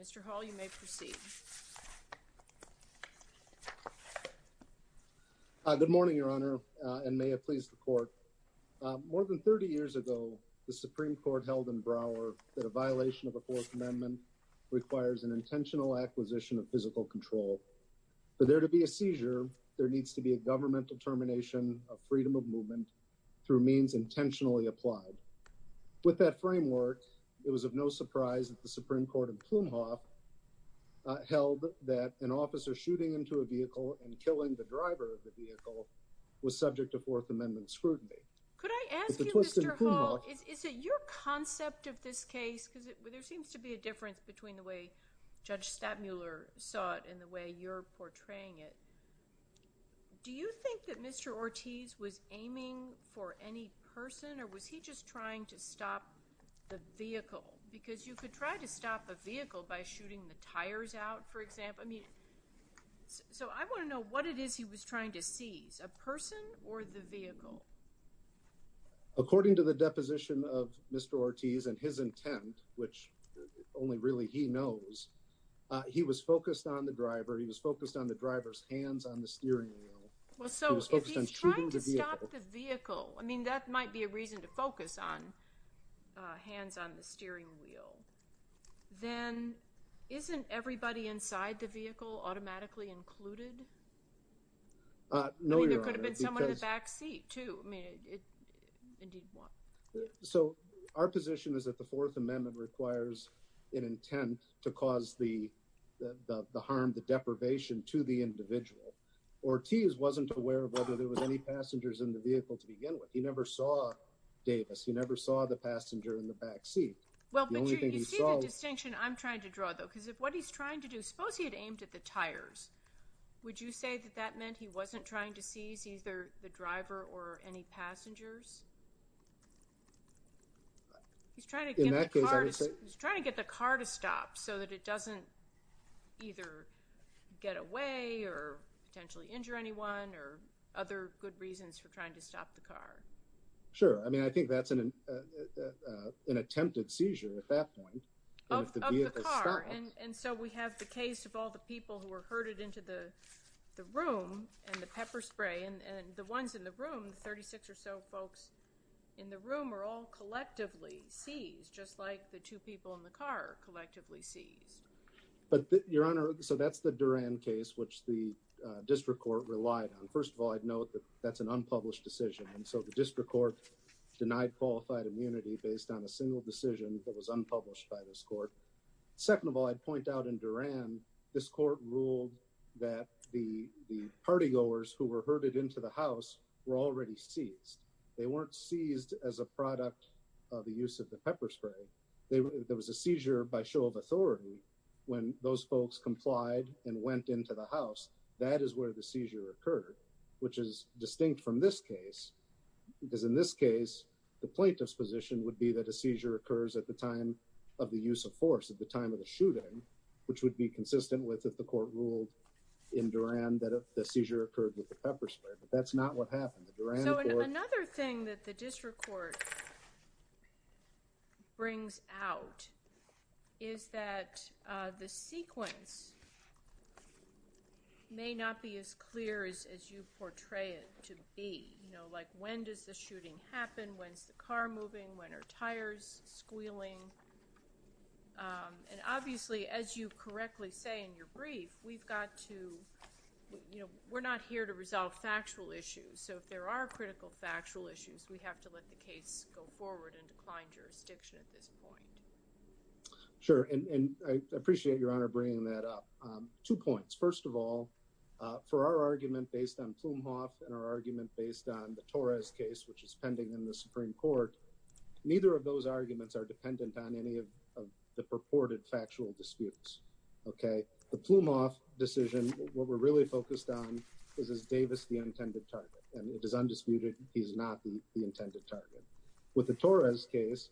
Mr. Hall, you may proceed. Good morning, Your Honor, and may it please the court. More than 30 years ago, the Supreme Court held in Brouwer that a violation of the Fourth Amendment requires an intentional acquisition of physical control. For there to be a seizure, there needs to be a governmental termination of freedom of movement through means intentionally applied. With that framework, it was of no surprise that the Supreme Court in Plumhoff held that an officer shooting into a vehicle and killing the driver of the vehicle was subject to Fourth Amendment scrutiny. Could I ask you, Mr. Hall, is it your concept of this case, because there seems to be a difference between the way Judge Stadmuller saw it and the way you're portraying it. Do you think that Mr. Ortiz was aiming for any person or was he just trying to stop the vehicle? Because you could try to stop a vehicle by shooting the tires out, for example. I mean, so I want to know what it is he was trying to seize, a person or the vehicle. According to the deposition of Mr. Ortiz and his intent, which only really he knows, he was focused on the driver. He was focused on the driver's hands on the steering wheel. Well, so if he's trying to stop the vehicle, I mean, that might be a reason to focus on hands on the steering wheel. Then isn't everybody inside the vehicle automatically included? No, Your Honor. I mean, there could have been someone in the back seat, too. I mean, indeed. So our position is that the Fourth Amendment requires an intent to cause the harm, the deprivation to the individual. Ortiz wasn't aware of whether there was any passengers in the vehicle to begin with. He never saw Davis. He never saw the passenger in the back seat. Well, but you see the distinction I'm trying to draw, though, because if what he's trying to do, suppose he had aimed at the tires, would you say that that meant he wasn't trying to seize either the driver or any passengers? He's trying to get the car to stop so that it doesn't either get away or potentially injure anyone or other good reasons for trying to stop the car. Sure. I mean, I think that's an attempted seizure at that point of the vehicle. And so we have the case of all the people who were herded into the room and the pepper spray and the ones in the room, 36 or so folks in the room are all collectively seized, just like the two people in the car are collectively seized. But Your Honor, so that's the Duran case, which the district court relied on. First of all, I'd note that that's an unpublished decision. And so the district court denied qualified immunity based on a single decision that was unpublished by this court. Second of all, I'd point out in Duran, this court ruled that the partygoers who were herded into the house were already seized. They weren't seized as a product of the use of the pepper spray. There was a seizure by show of authority when those folks complied and went into the house. That is where the seizure occurred, which is distinct from this case, because in this case, the plaintiff's position would be that a seizure occurs at the time of the use of force, at the time of the shooting, which would be consistent with if the court ruled in Duran that the seizure occurred with the pepper spray. But that's not what happened. So another thing that the district court brings out is that the sequence may not be as clear as you portray it to be. You know, like when does the shooting happen? When's the car moving? When are tires squealing? And obviously, as you correctly say in your brief, we've got to, you know, we're not here to resolve factual issues. So if there are critical factual issues, we have to let the case go forward and decline jurisdiction at this point. Sure, and I appreciate your honor bringing that up. Two points. First of all, for our argument based on Plumhoff and our argument based on the Torres case, which is pending in the Supreme Court, neither of those arguments are the purported factual disputes. OK, the Plumhoff decision, what we're really focused on is, is Davis the intended target? And it is undisputed he's not the intended target. With the Torres case,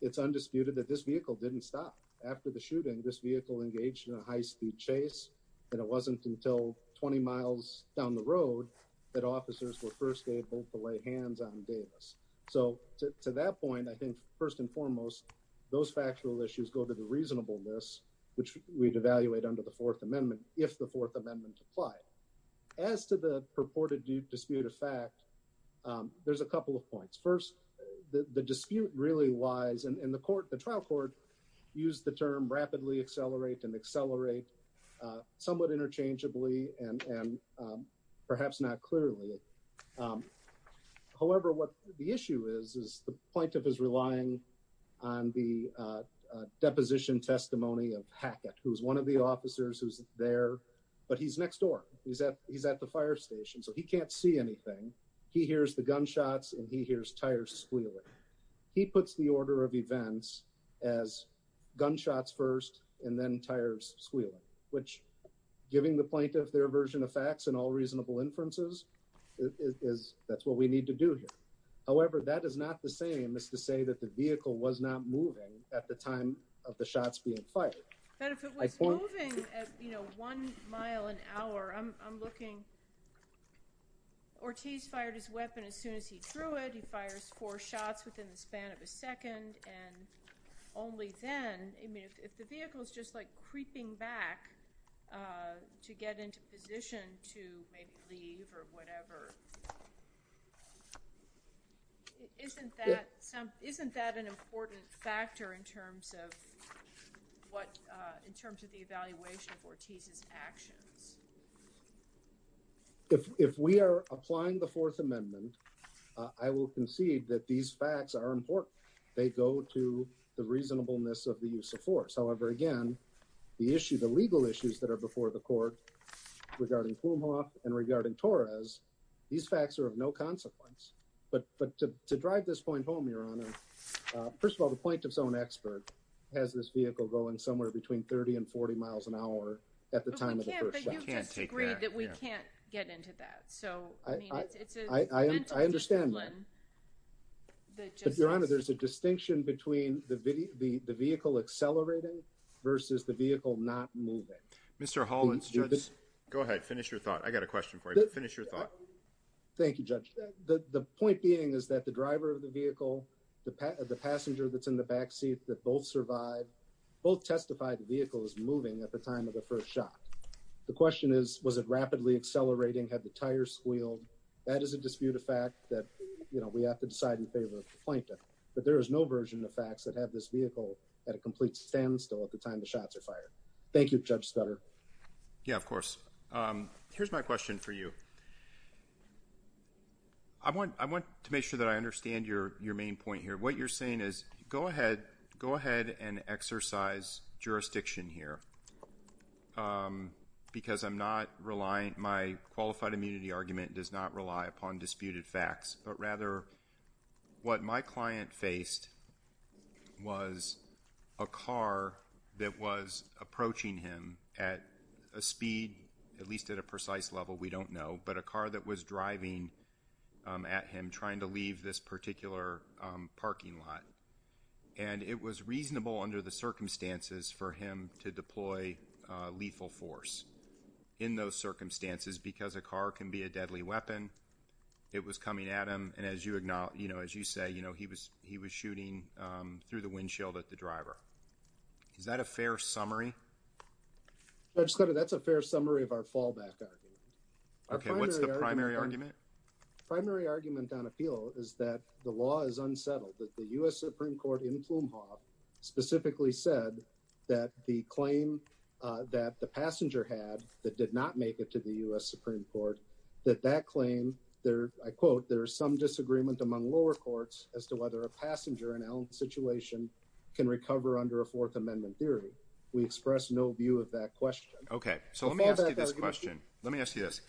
it's undisputed that this vehicle didn't stop after the shooting. This vehicle engaged in a high speed chase. And it wasn't until 20 miles down the road that officers were first able to lay hands on Davis. So to that point, I think first and foremost, those factual issues go to the reasonableness, which we'd evaluate under the Fourth Amendment if the Fourth Amendment applied. As to the purported dispute of fact, there's a couple of points. First, the dispute really lies in the court. The trial court used the term rapidly accelerate and accelerate somewhat interchangeably and perhaps not clearly. However, what the issue is, is the plaintiff is relying on the deposition testimony of Hackett, who is one of the officers who's there, but he's next door. He's at he's at the fire station, so he can't see anything. He hears the gunshots and he hears tires squealing. He puts the order of events as gunshots first and then tires squealing, which giving the is that's what we need to do here. However, that is not the same as to say that the vehicle was not moving at the time of the shots being fired. But if it was moving, you know, one mile an hour, I'm looking. Ortiz fired his weapon as soon as he drew it, he fires four shots within the span of a second, and only then, I mean, if the vehicle is just like creeping back to get into position to maybe leave or whatever. Isn't that some isn't that an important factor in terms of what in terms of the evaluation of Ortiz's actions? If we are applying the Fourth Amendment, I will concede that these facts are important. They go to the reasonableness of the use of force. However, again, the issue, the legal issues that are before the court regarding Plumhoff and regarding Torres, these facts are of no consequence. But but to drive this point home, Your Honor, first of all, the plaintiff's own expert has this vehicle going somewhere between 30 and 40 miles an hour at the time of the first shot. You just agreed that we can't get into that. So I mean, it's I understand. But Your Honor, there's a distinction between the the vehicle accelerating versus the vehicle not moving. Mr. Hollins, go ahead. Finish your thought. I got a question for you. Finish your thought. Thank you, Judge. The point being is that the driver of the vehicle, the passenger that's in the back seat that both survived, both testified the vehicle is moving at the time of the first shot. The question is, was it rapidly accelerating? Had the tires squealed? That is a dispute, a fact that we have to decide in favor of the plaintiff. But there is no version of facts that have this vehicle at a complete standstill at the time the shots are fired. Thank you, Judge Scudder. Yeah, of course. Here's my question for you. I want I want to make sure that I understand your your main point here. What you're saying is go ahead, go ahead and exercise jurisdiction here because I'm not reliant. My qualified immunity argument does not rely upon disputed facts, but rather what my client faced was a car that was approaching him at a speed, at least at a precise level. We don't know. But a car that was driving at him trying to leave this particular parking lot. And it was reasonable under the circumstances for him to deploy lethal force in those circumstances because a car can be a deadly weapon. It was coming at him. And as you acknowledge, you know, as you say, you know, he was he was shooting through the windshield at the driver. Is that a fair summary? Judge Scudder, that's a fair summary of our fallback argument. OK, what's the primary argument? Primary argument on appeal is that the law is unsettled, that the U.S. Supreme Court in Plume Hall specifically said that the claim that the passenger had that did not make it to the U.S. Supreme Court, that that claim there, I quote, there is some disagreement among lower courts as to whether a passenger in our situation can recover under a Fourth Amendment theory. We express no view of that question. OK, so let me ask you this question. Let me ask you this.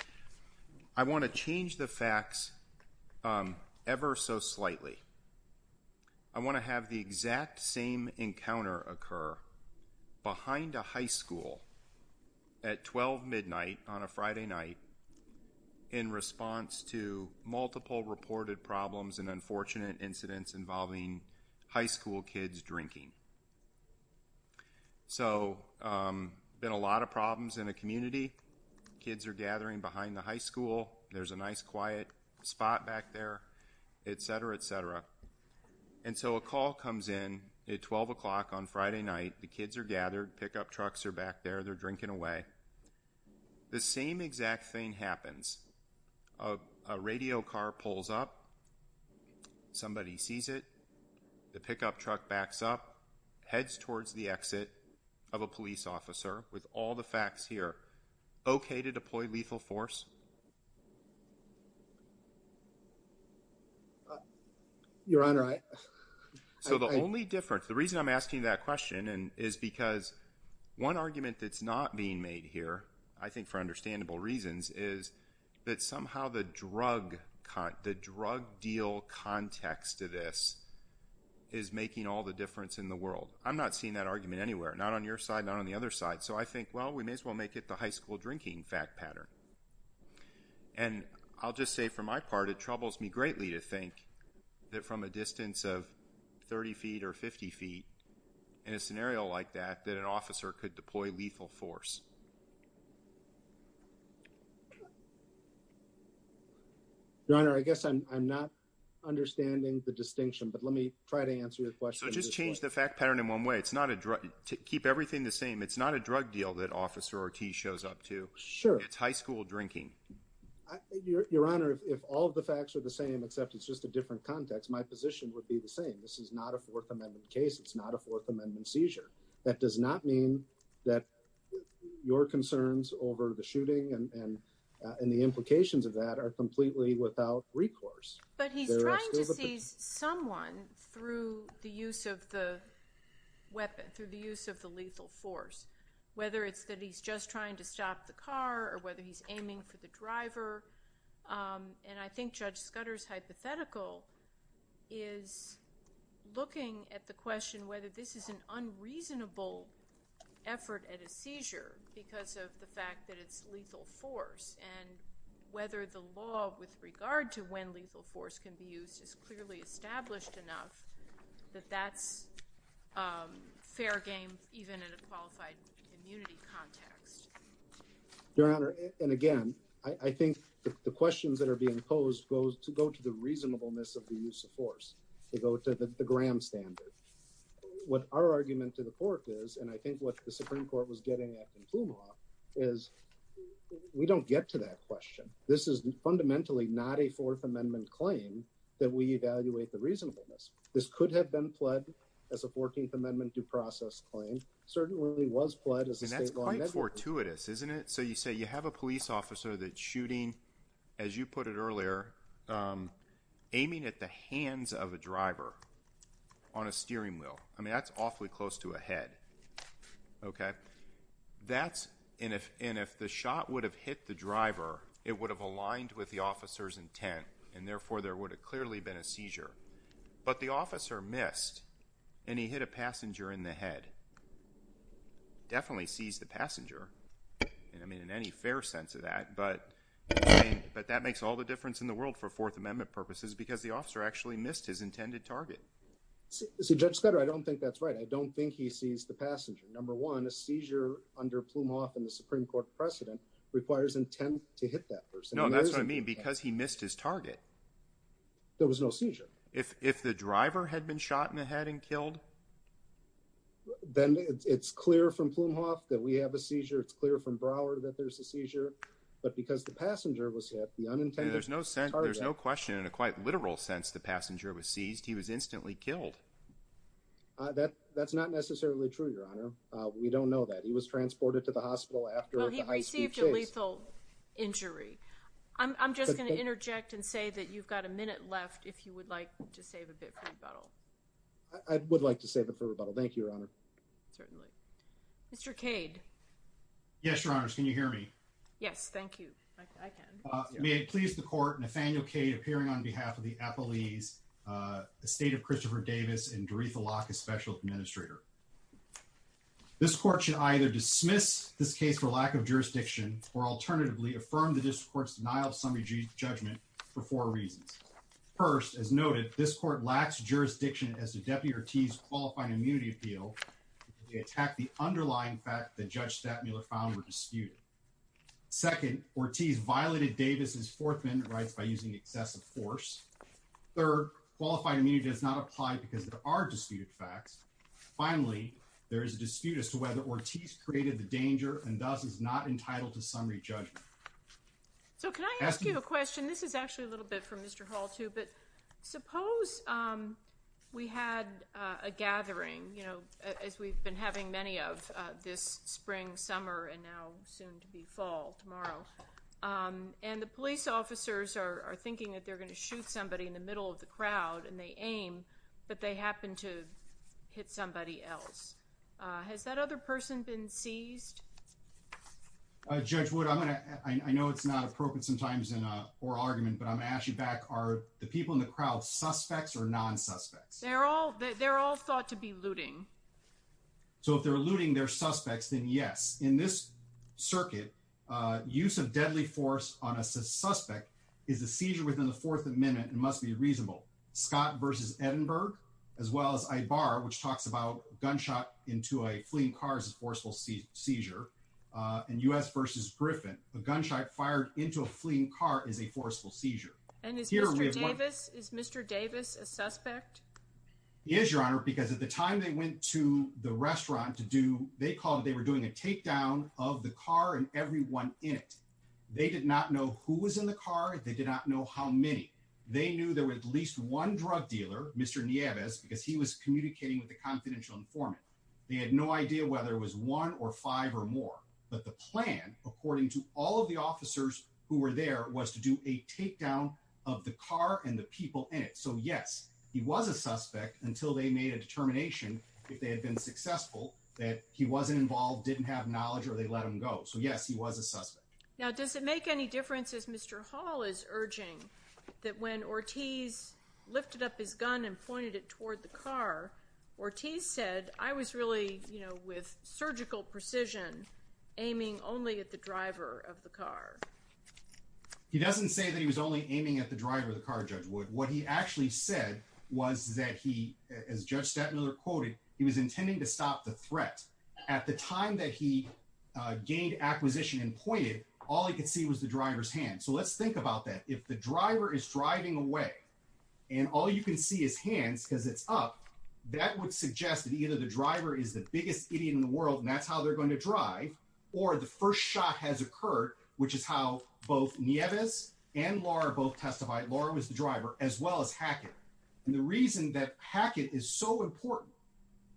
I want to change the facts ever so slightly. I want to have the exact same encounter occur behind a high school at 12 midnight on a Friday night in response to multiple reported problems and unfortunate incidents involving high school kids drinking. So been a lot of problems in a community. Kids are gathering behind the high school. There's a nice quiet spot back there, et cetera, et cetera. And so a call comes in at 12 o'clock on Friday night. The kids are gathered. Pickup trucks are back there. They're drinking away. The same exact thing happens. A radio car pulls up. Somebody sees it. The pickup truck backs up, heads towards the exit of a police officer with all the facts here. OK to deploy lethal force. Your Honor, so the only difference, the reason I'm asking that question is because one argument that's not being made here, I think for understandable reasons, is that somehow the drug, the drug deal context to this is making all the difference in the world. I'm not seeing that argument anywhere, not on your side, not on the other side. So I think, well, we may as well make it the high school drinking fact pattern. And I'll just say for my part, it troubles me greatly to think that from a distance of 30 feet or 50 feet in a scenario like that, that an officer could deploy lethal force. Your Honor, I guess I'm not understanding the distinction, but let me try to answer your question. So just change the fact pattern in one way. It's not a drug to keep everything the same. It's not a drug deal that officer Ortiz shows up to. Sure. It's high school drinking. Your Honor, if all of the facts are the same, except it's just a different context, my position would be the same. This is not a Fourth Amendment case. It's not a Fourth Amendment seizure. That does not mean that your concerns over the shooting and the implications of that are completely without recourse. But he's trying to see someone through the use of the weapon, through the use of the car, or whether he's aiming for the driver. And I think Judge Scudder's hypothetical is looking at the question whether this is an unreasonable effort at a seizure because of the fact that it's lethal force and whether the law with regard to when lethal force can be used is clearly established enough that that's fair game, even in a qualified immunity context. Your Honor, and again, I think the questions that are being posed goes to go to the reasonableness of the use of force. They go to the Graham standard. What our argument to the court is, and I think what the Supreme Court was getting at in Pluma is we don't get to that question. This is fundamentally not a Fourth Amendment claim that we evaluate the reasonableness. This could have been pledged as a 14th Amendment due process claim, certainly was pledged as a statewide measure. And that's quite fortuitous, isn't it? So you say you have a police officer that's shooting, as you put it earlier, aiming at the hands of a driver on a steering wheel. I mean, that's awfully close to a head. OK, that's and if and if the shot would have hit the driver, it would have aligned with the officer's intent and therefore there would have clearly been a seizure. But the officer missed and he hit a passenger in the head. Definitely seized the passenger, and I mean, in any fair sense of that, but but that makes all the difference in the world for Fourth Amendment purposes, because the officer actually missed his intended target. See, Judge Scudder, I don't think that's right. I don't think he seized the passenger. Number one, a seizure under Plumhoff and the Supreme Court precedent requires intent to hit that person. No, that's what I mean, because he missed his target. There was no seizure. If the driver had been shot in the head and killed. But then it's clear from Plumhoff that we have a seizure. It's clear from Broward that there's a seizure, but because the passenger was hit, the unintended. There's no sense. There's no question in a quite literal sense. The passenger was seized. He was instantly killed. That that's not necessarily true, Your Honor. We don't know that he was transported to the hospital after he received a lethal injury. I'm just going to interject and say that you've got a minute left. If you would like to save a bit for the bottle. I would like to save it for rebuttal. Thank you, Your Honor. Certainly. Mr. Cade. Yes, Your Honors. Can you hear me? Yes, thank you. I can. May it please the court. Nathaniel Cade appearing on behalf of the appellees, the state of Christopher Davis and Doritha Locke, a special administrator. This court should either dismiss this case for lack of jurisdiction or alternatively affirm the district court's denial of summary judgment for four reasons. First, as noted, this court lacks jurisdiction as the deputy Ortiz qualified immunity appeal. They attack the underlying fact that Judge Stattmuller found were disputed. Second, Ortiz violated Davis's Fourth Amendment rights by using excessive force. Third, qualified immunity does not apply because there are disputed facts. Finally, there is a dispute as to whether Ortiz created the danger and thus is not entitled to summary judgment. So can I ask you a question? This is actually a little bit for Mr. Hall, too, but suppose we had a gathering, you know, as we've been having many of this spring, summer and now soon to be fall tomorrow. And the police officers are thinking that they're going to shoot somebody in the middle of the crowd and they aim, but they happen to hit somebody else. Has that other person been seized? Judge Wood, I'm going to I know it's not appropriate sometimes in a oral argument, but I'm actually back are the people in the crowd suspects or non-suspects? They're all they're all thought to be looting. So if they're looting their suspects, then yes, in this circuit, use of deadly force on a suspect is a seizure within the Fourth Amendment and must be reasonable. Scott versus Edinburgh, as well as Ibar, which talks about gunshot into a fleeing car is a forceful seizure. And U.S. versus Griffin, a gunshot fired into a fleeing car is a forceful seizure. And is here is Mr. Davis a suspect? Yes, your honor, because at the time they went to the restaurant to do they called they were doing a takedown of the car and everyone in it. They did not know who was in the car. They did not know how many. They knew there were at least one drug dealer, Mr. Nieves, because he was communicating with the confidential informant. They had no idea whether it was one or five or more. But the plan, according to all of the officers who were there, was to do a takedown of the car and the people in it. So, yes, he was a suspect until they made a determination if they had been successful, that he wasn't involved, didn't have knowledge or they let him go. So, yes, he was a suspect. Now, does it make any difference, as Mr. Hall is urging, that when Ortiz lifted up his gun and pointed it toward the car, Ortiz said, I was really, you know, with surgical precision aiming only at the driver of the car? He doesn't say that he was only aiming at the driver of the car, Judge Wood. What he actually said was that he, as Judge Stettmiller quoted, he was intending to stop the threat. At the time that he gained acquisition and pointed, all he could see was the driver's hand. So let's think about that. If the driver is driving away and all you can see his hands because it's up, that would suggest that either the driver is the biggest idiot in the world and that's how they're going to drive. Or the first shot has occurred, which is how both Nieves and Laura both testified. Laura was the driver as well as Hackett. And the reason that Hackett is so important,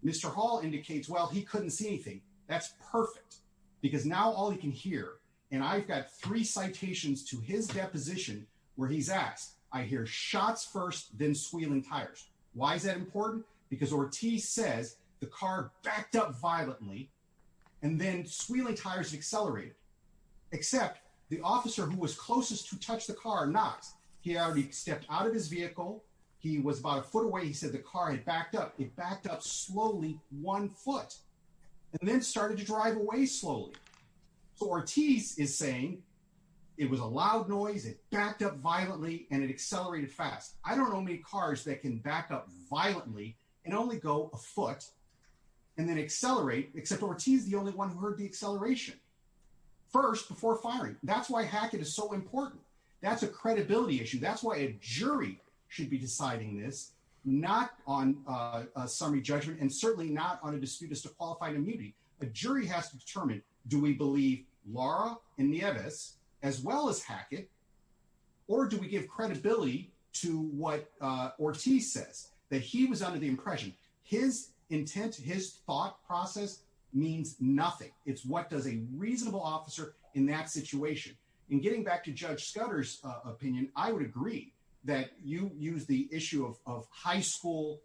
Mr. Hall indicates, well, he couldn't see anything. That's perfect because now all he can hear. And I've got three citations to his deposition where he's asked, I hear shots first, then Why is that important? Because Ortiz says the car backed up violently and then squealing tires accelerated, except the officer who was closest to touch the car knocks. He already stepped out of his vehicle. He was about a foot away. He said the car had backed up. It backed up slowly one foot and then started to drive away slowly. So Ortiz is saying it was a loud noise. It backed up violently and it accelerated fast. I don't know many cars that can back up violently and only go a foot and then accelerate, except Ortiz is the only one who heard the acceleration first before firing. That's why Hackett is so important. That's a credibility issue. That's why a jury should be deciding this, not on a summary judgment and certainly not on a dispute as to qualified immunity. A jury has to determine, do we believe Laura and Nieves as well as Hackett or do we give credibility to what Ortiz says that he was under the impression his intent, his thought process means nothing. It's what does a reasonable officer in that situation. In getting back to Judge Scudder's opinion, I would agree that you use the issue of high school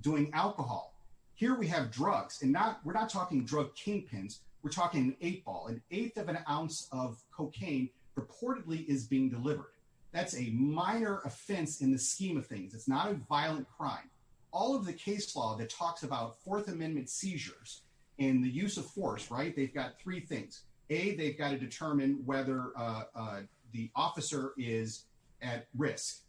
doing alcohol here. We have drugs and not we're not talking drug kingpins. We're talking eight ball, an eighth of an ounce of cocaine reportedly is being delivered. That's a minor offense in the scheme of things. It's not a violent crime. All of the case law that talks about Fourth Amendment seizures in the use of force. Right. They've got three things. A, they've got to determine whether the officer is at risk.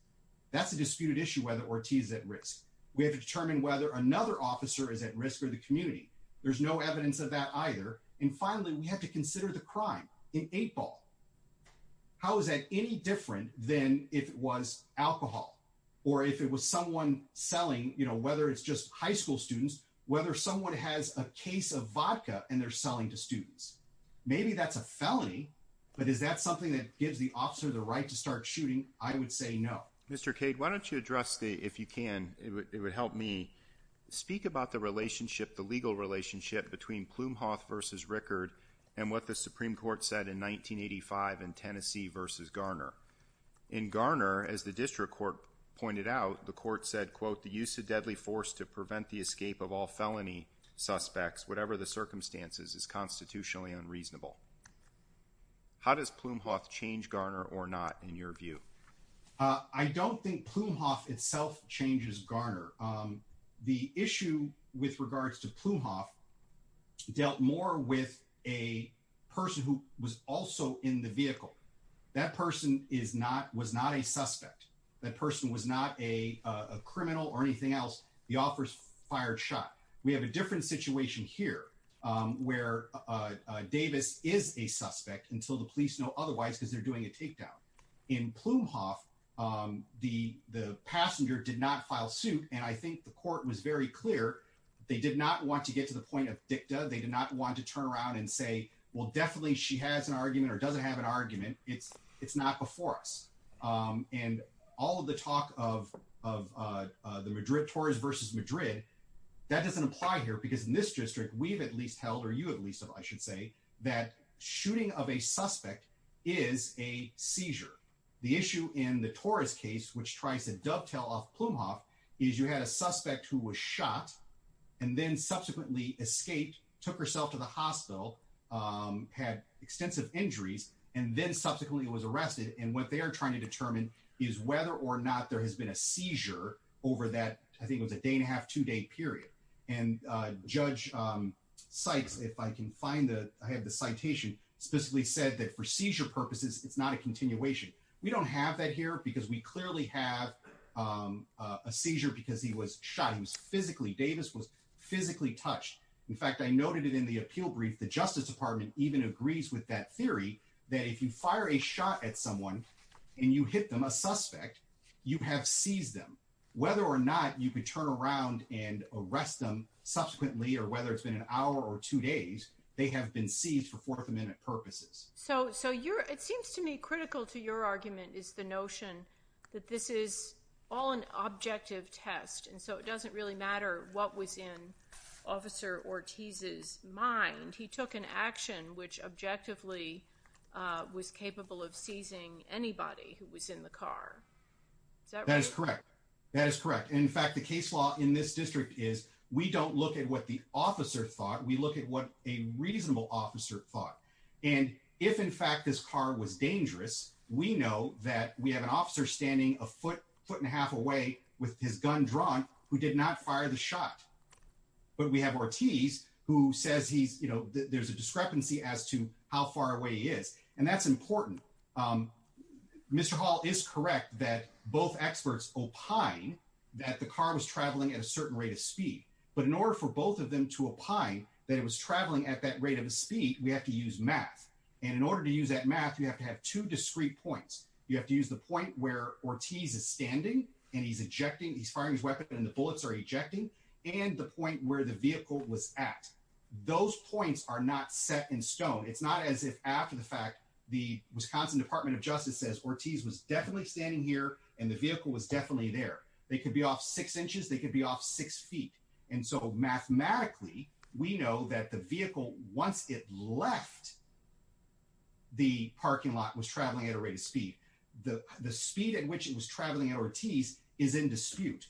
That's a disputed issue, whether Ortiz is at risk. We have to determine whether another officer is at risk or the community. There's no evidence of that either. And finally, we have to consider the crime in eight ball. How is that any different than if it was alcohol or if it was someone selling, you know, whether it's just high school students, whether someone has a case of vodka and they're selling to students, maybe that's a felony. But is that something that gives the officer the right to start shooting? I would say no. Mr. Cade, why don't you address the if you can. It would help me speak about the relationship, the legal relationship between Plum versus Rickard and what the Supreme Court said in 1985 in Tennessee versus Garner in Garner. As the district court pointed out, the court said, quote, the use of deadly force to prevent the escape of all felony suspects, whatever the circumstances, is constitutionally unreasonable. How does Plumhoff change Garner or not, in your view? I don't think Plumhoff itself changes Garner. The issue with regards to Plumhoff dealt more with a person who was also in the vehicle. That person is not was not a suspect. That person was not a criminal or anything else. The officer fired shot. We have a different situation here where Davis is a suspect until the police know otherwise, because they're doing a takedown in Plumhoff. The the passenger did not file suit, and I think the court was very clear they did not want to get to the point of dicta. They did not want to turn around and say, well, definitely she has an argument or doesn't have an argument. It's it's not before us. And all of the talk of of the Madrid Torres versus Madrid, that doesn't apply here because in this district we've at least held or you at least, I should say, that shooting of a suspect is a seizure. The issue in the Torres case, which tries to dovetail off Plumhoff, is you had a suspect who was shot and then subsequently escaped, took herself to the hospital, had extensive injuries and then subsequently was arrested. And what they are trying to determine is whether or not there has been a seizure over that. I think it was a day and a half, two day period. And Judge Sykes, if I can find the I have the citation specifically said that for seizure purposes, it's not a continuation. We don't have that here because we clearly have a seizure because he was shot. He was physically Davis was physically touched. In fact, I noted it in the appeal brief. The Justice Department even agrees with that theory that if you fire a shot at someone and you hit them, a suspect, you have seized them. Whether or not you could turn around and arrest them subsequently or whether it's been an hour or two days, they have been seized for Fourth Amendment purposes. So so you're it seems to me critical to your argument is the notion that this is all an objective test. And so it doesn't really matter what was in Officer Ortiz's mind. He took an action which objectively was capable of seizing anybody who was in the car. That is correct. That is correct. In fact, the case law in this district is we don't look at what the officer thought. We look at what a reasonable officer thought. And if, in fact, this car was dangerous, we know that we have an officer standing a foot, foot and a half away with his gun drawn who did not fire the shot. But we have Ortiz, who says he's you know, there's a discrepancy as to how far away he is. And that's important. Mr. Hall is correct that both experts opine that the car was traveling at a certain rate of speed. But in order for both of them to opine that it was traveling at that rate of speed, you have to use math. And in order to use that math, you have to have two discrete points. You have to use the point where Ortiz is standing and he's ejecting. He's firing his weapon and the bullets are ejecting and the point where the vehicle was at. Those points are not set in stone. It's not as if after the fact, the Wisconsin Department of Justice says Ortiz was definitely standing here and the vehicle was definitely there. They could be off six inches. They could be off six feet. And so mathematically, we know that the vehicle, once it left. The parking lot was traveling at a rate of speed, the speed at which it was traveling at Ortiz is in dispute.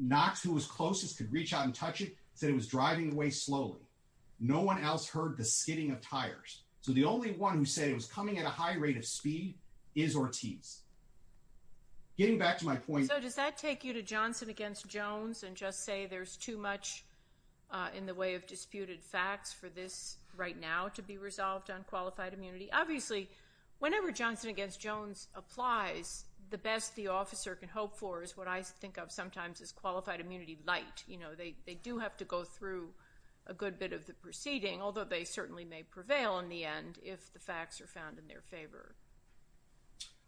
Knox, who was closest to reach out and touch it, said it was driving away slowly. No one else heard the skidding of tires. So the only one who said it was coming at a high rate of speed is Ortiz. Getting back to my point, does that take you to Johnson against Jones and just say there's too much in the way of disputed facts for this right now to be resolved on qualified immunity? Obviously, whenever Johnson against Jones applies, the best the officer can hope for is what I think of sometimes as qualified immunity light. You know, they do have to go through a good bit of the proceeding, although they certainly may prevail in the end if the facts are found in their favor.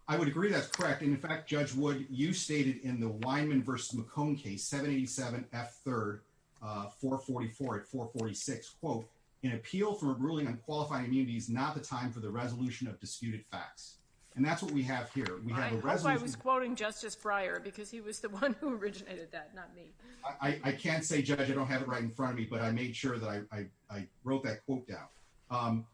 I would agree that's correct. And in fact, Judge Wood, you stated in the Weinman versus McCone case, 787 F 3rd, 444 at 446, quote, an appeal for ruling on qualifying immunity is not the time for the resolution of disputed facts. And that's what we have here. We have a resolution. I was quoting Justice Breyer because he was the one who originated that. Not me. I can't say, Judge, I don't have it right in front of me, but I made sure that I wrote that quote down.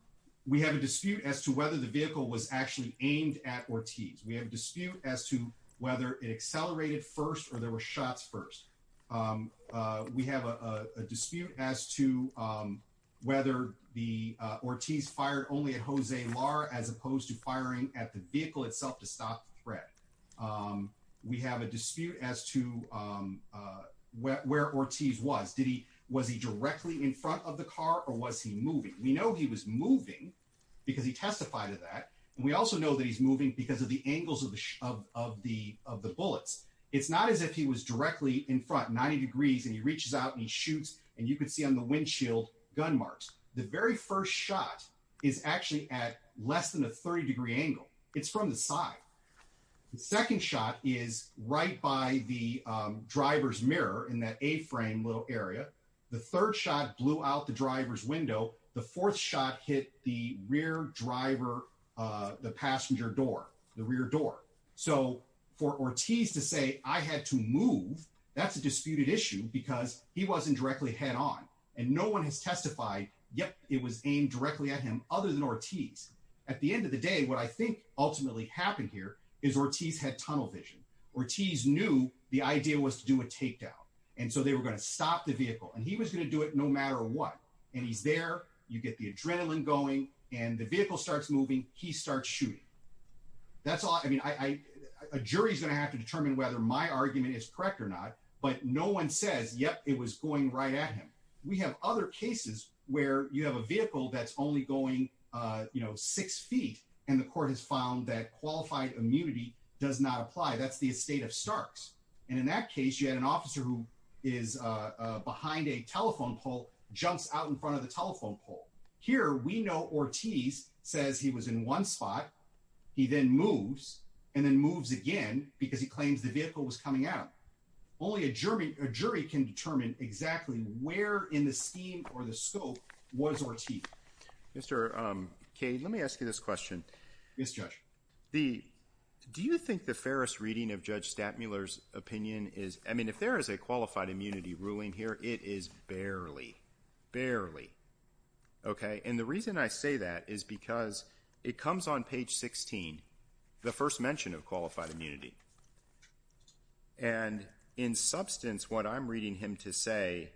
We have a dispute as to whether the vehicle was actually aimed at Ortiz. We have a dispute as to whether it accelerated first or there were shots first. We have a dispute as to whether the Ortiz fired only at Jose Lara as opposed to firing at the vehicle itself to stop the threat. We have a dispute as to where Ortiz was. Did he was he directly in front of the car or was he moving? We know he was moving because he testified to that. And we also know that he's moving because of the angles of the of the of the bullets. It's not as if he was directly in front, 90 degrees, and he reaches out and he shoots. And you could see on the windshield gun marks. The very first shot is actually at less than a 30 degree angle. It's from the side. The second shot is right by the driver's mirror in that a frame little area. The third shot blew out the driver's window. The fourth shot hit the rear driver, the passenger door, the rear door. So for Ortiz to say I had to move, that's a disputed issue because he wasn't directly head on and no one has testified yet. It was aimed directly at him other than Ortiz. At the end of the day, what I think ultimately happened here is Ortiz had tunnel vision. Ortiz knew the idea was to do a takedown. And so they were going to stop the vehicle and he was going to do it no matter what. And he's there. You get the adrenaline going and the vehicle starts moving. He starts shooting. That's all I mean, a jury is going to have to determine whether my argument is correct or not, but no one says, yep, it was going right at him. We have other cases where you have a vehicle that's only going six feet and the court has found that qualified immunity does not apply. That's the estate of Starks. And in that case, you had an officer who is behind a telephone pole, jumps out in front of the telephone pole. Here we know Ortiz says he was in one spot. He then moves and then moves again because he claims the vehicle was coming out. Only a jury can determine exactly where in the scheme or the scope was Ortiz. Mr. Cade, let me ask you this question. Mr. Judge, do you think the fairest reading of Judge Stattmuller's opinion is, I mean, if there is a qualified immunity ruling here, it is barely, barely. OK, and the reason I say that is because it comes on page 16, the first mention of qualified immunity. And in substance, what I'm reading him to say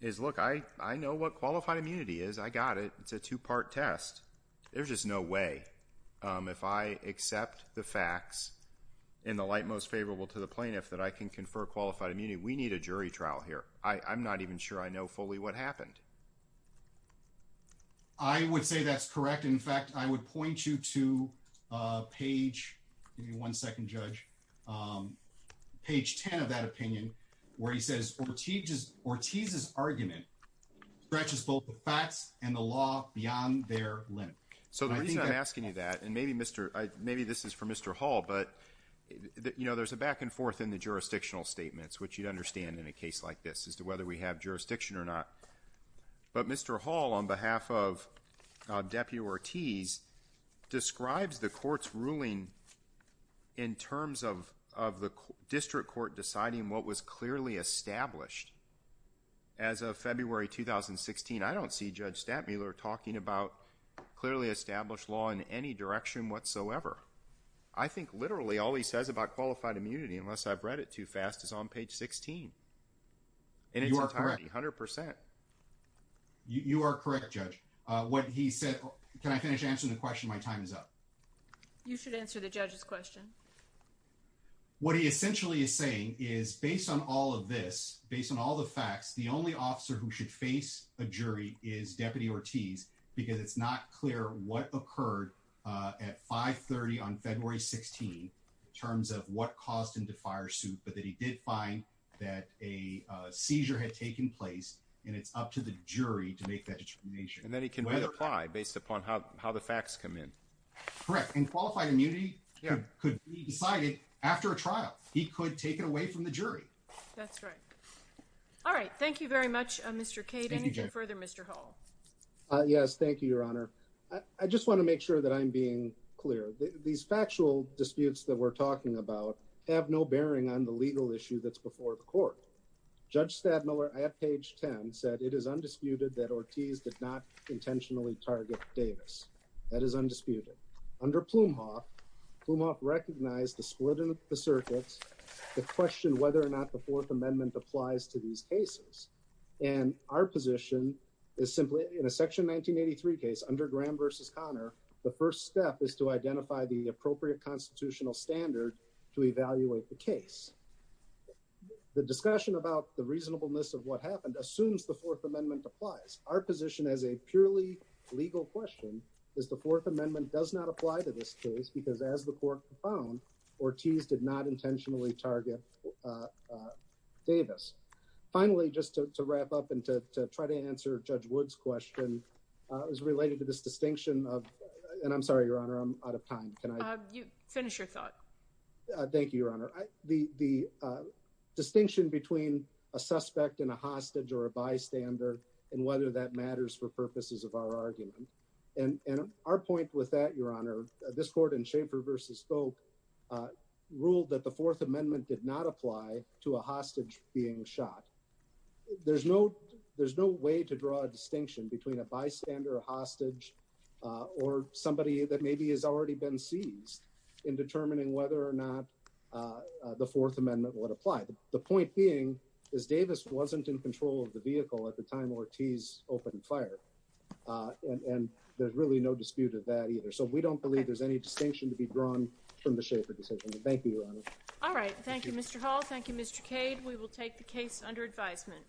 is, look, I know what qualified immunity is. I got it. It's a two part test. There's just no way if I accept the facts in the light most favorable to the plaintiff that I can confer qualified immunity. We need a jury trial here. I'm not even sure I know fully what happened. I would say that's correct. In fact, I would point you to page one second, Judge Page 10 of that opinion where he So the reason I'm asking you that and maybe Mr. Maybe this is for Mr. Hall, but, you know, there's a back and forth in the jurisdictional statements, which you'd understand in a case like this as to whether we have jurisdiction or not. But Mr. Hall, on behalf of Deputy Ortiz, describes the court's ruling in terms of the district court deciding what was clearly established as of February 2016. I don't see Judge Statmuller talking about clearly established law in any direction whatsoever. I think literally all he says about qualified immunity, unless I've read it too fast, is on page 16. And you are 100 percent. You are correct, Judge. What he said. Can I finish answering the question? My time is up. You should answer the judge's question. What he essentially is saying is based on all of this, based on all the facts, the only officer who should face a jury is Deputy Ortiz because it's not clear what occurred at 530 on February 16 in terms of what caused him to fire suit. But that he did find that a seizure had taken place and it's up to the jury to make that determination. And then he can apply based upon how the facts come in. Correct. And qualified immunity could be decided after a trial. He could take it away from the jury. That's right. All right. Thank you very much, Mr. Cade. And to further Mr. Hall. Yes, thank you, Your Honor. I just want to make sure that I'm being clear. These factual disputes that we're talking about have no bearing on the legal issue that's before the court. Judge Statmuller at page 10 said it is undisputed that Ortiz did not intentionally target Davis. That is undisputed. Under Plumhoff, Plumhoff recognized the split in the circuits that question whether or not the Fourth Amendment applies to these cases. And our position is simply in a section 1983 case under Graham versus Connor. The first step is to identify the appropriate constitutional standard to evaluate the case. The discussion about the reasonableness of what happened assumes the Fourth Amendment applies. Our position as a purely legal question is the Fourth Amendment does not apply to this case because as the court found, Ortiz did not intentionally target Davis. Finally, just to wrap up and to try to answer Judge Wood's question is related to this distinction of and I'm sorry, Your Honor, I'm out of time. Can I finish your thought? Thank you, Your Honor. The distinction between a suspect and a hostage or a bystander and whether that matters for purposes of our argument and our point with that, Your Honor, this court in Schaefer versus Spoke ruled that the Fourth Amendment did not apply to a hostage being shot. There's no there's no way to draw a distinction between a bystander, a hostage or somebody that maybe has already been seized in determining whether or not the Fourth Amendment would apply. The point being is Davis wasn't in control of the vehicle at the time Ortiz opened fire. And there's really no dispute of that either. So we don't believe there's any distinction to be drawn from the Schaefer decision. Thank you, Your Honor. All right. Thank you, Mr. Hall. Thank you, Mr. Cade. We will take the case under advisement.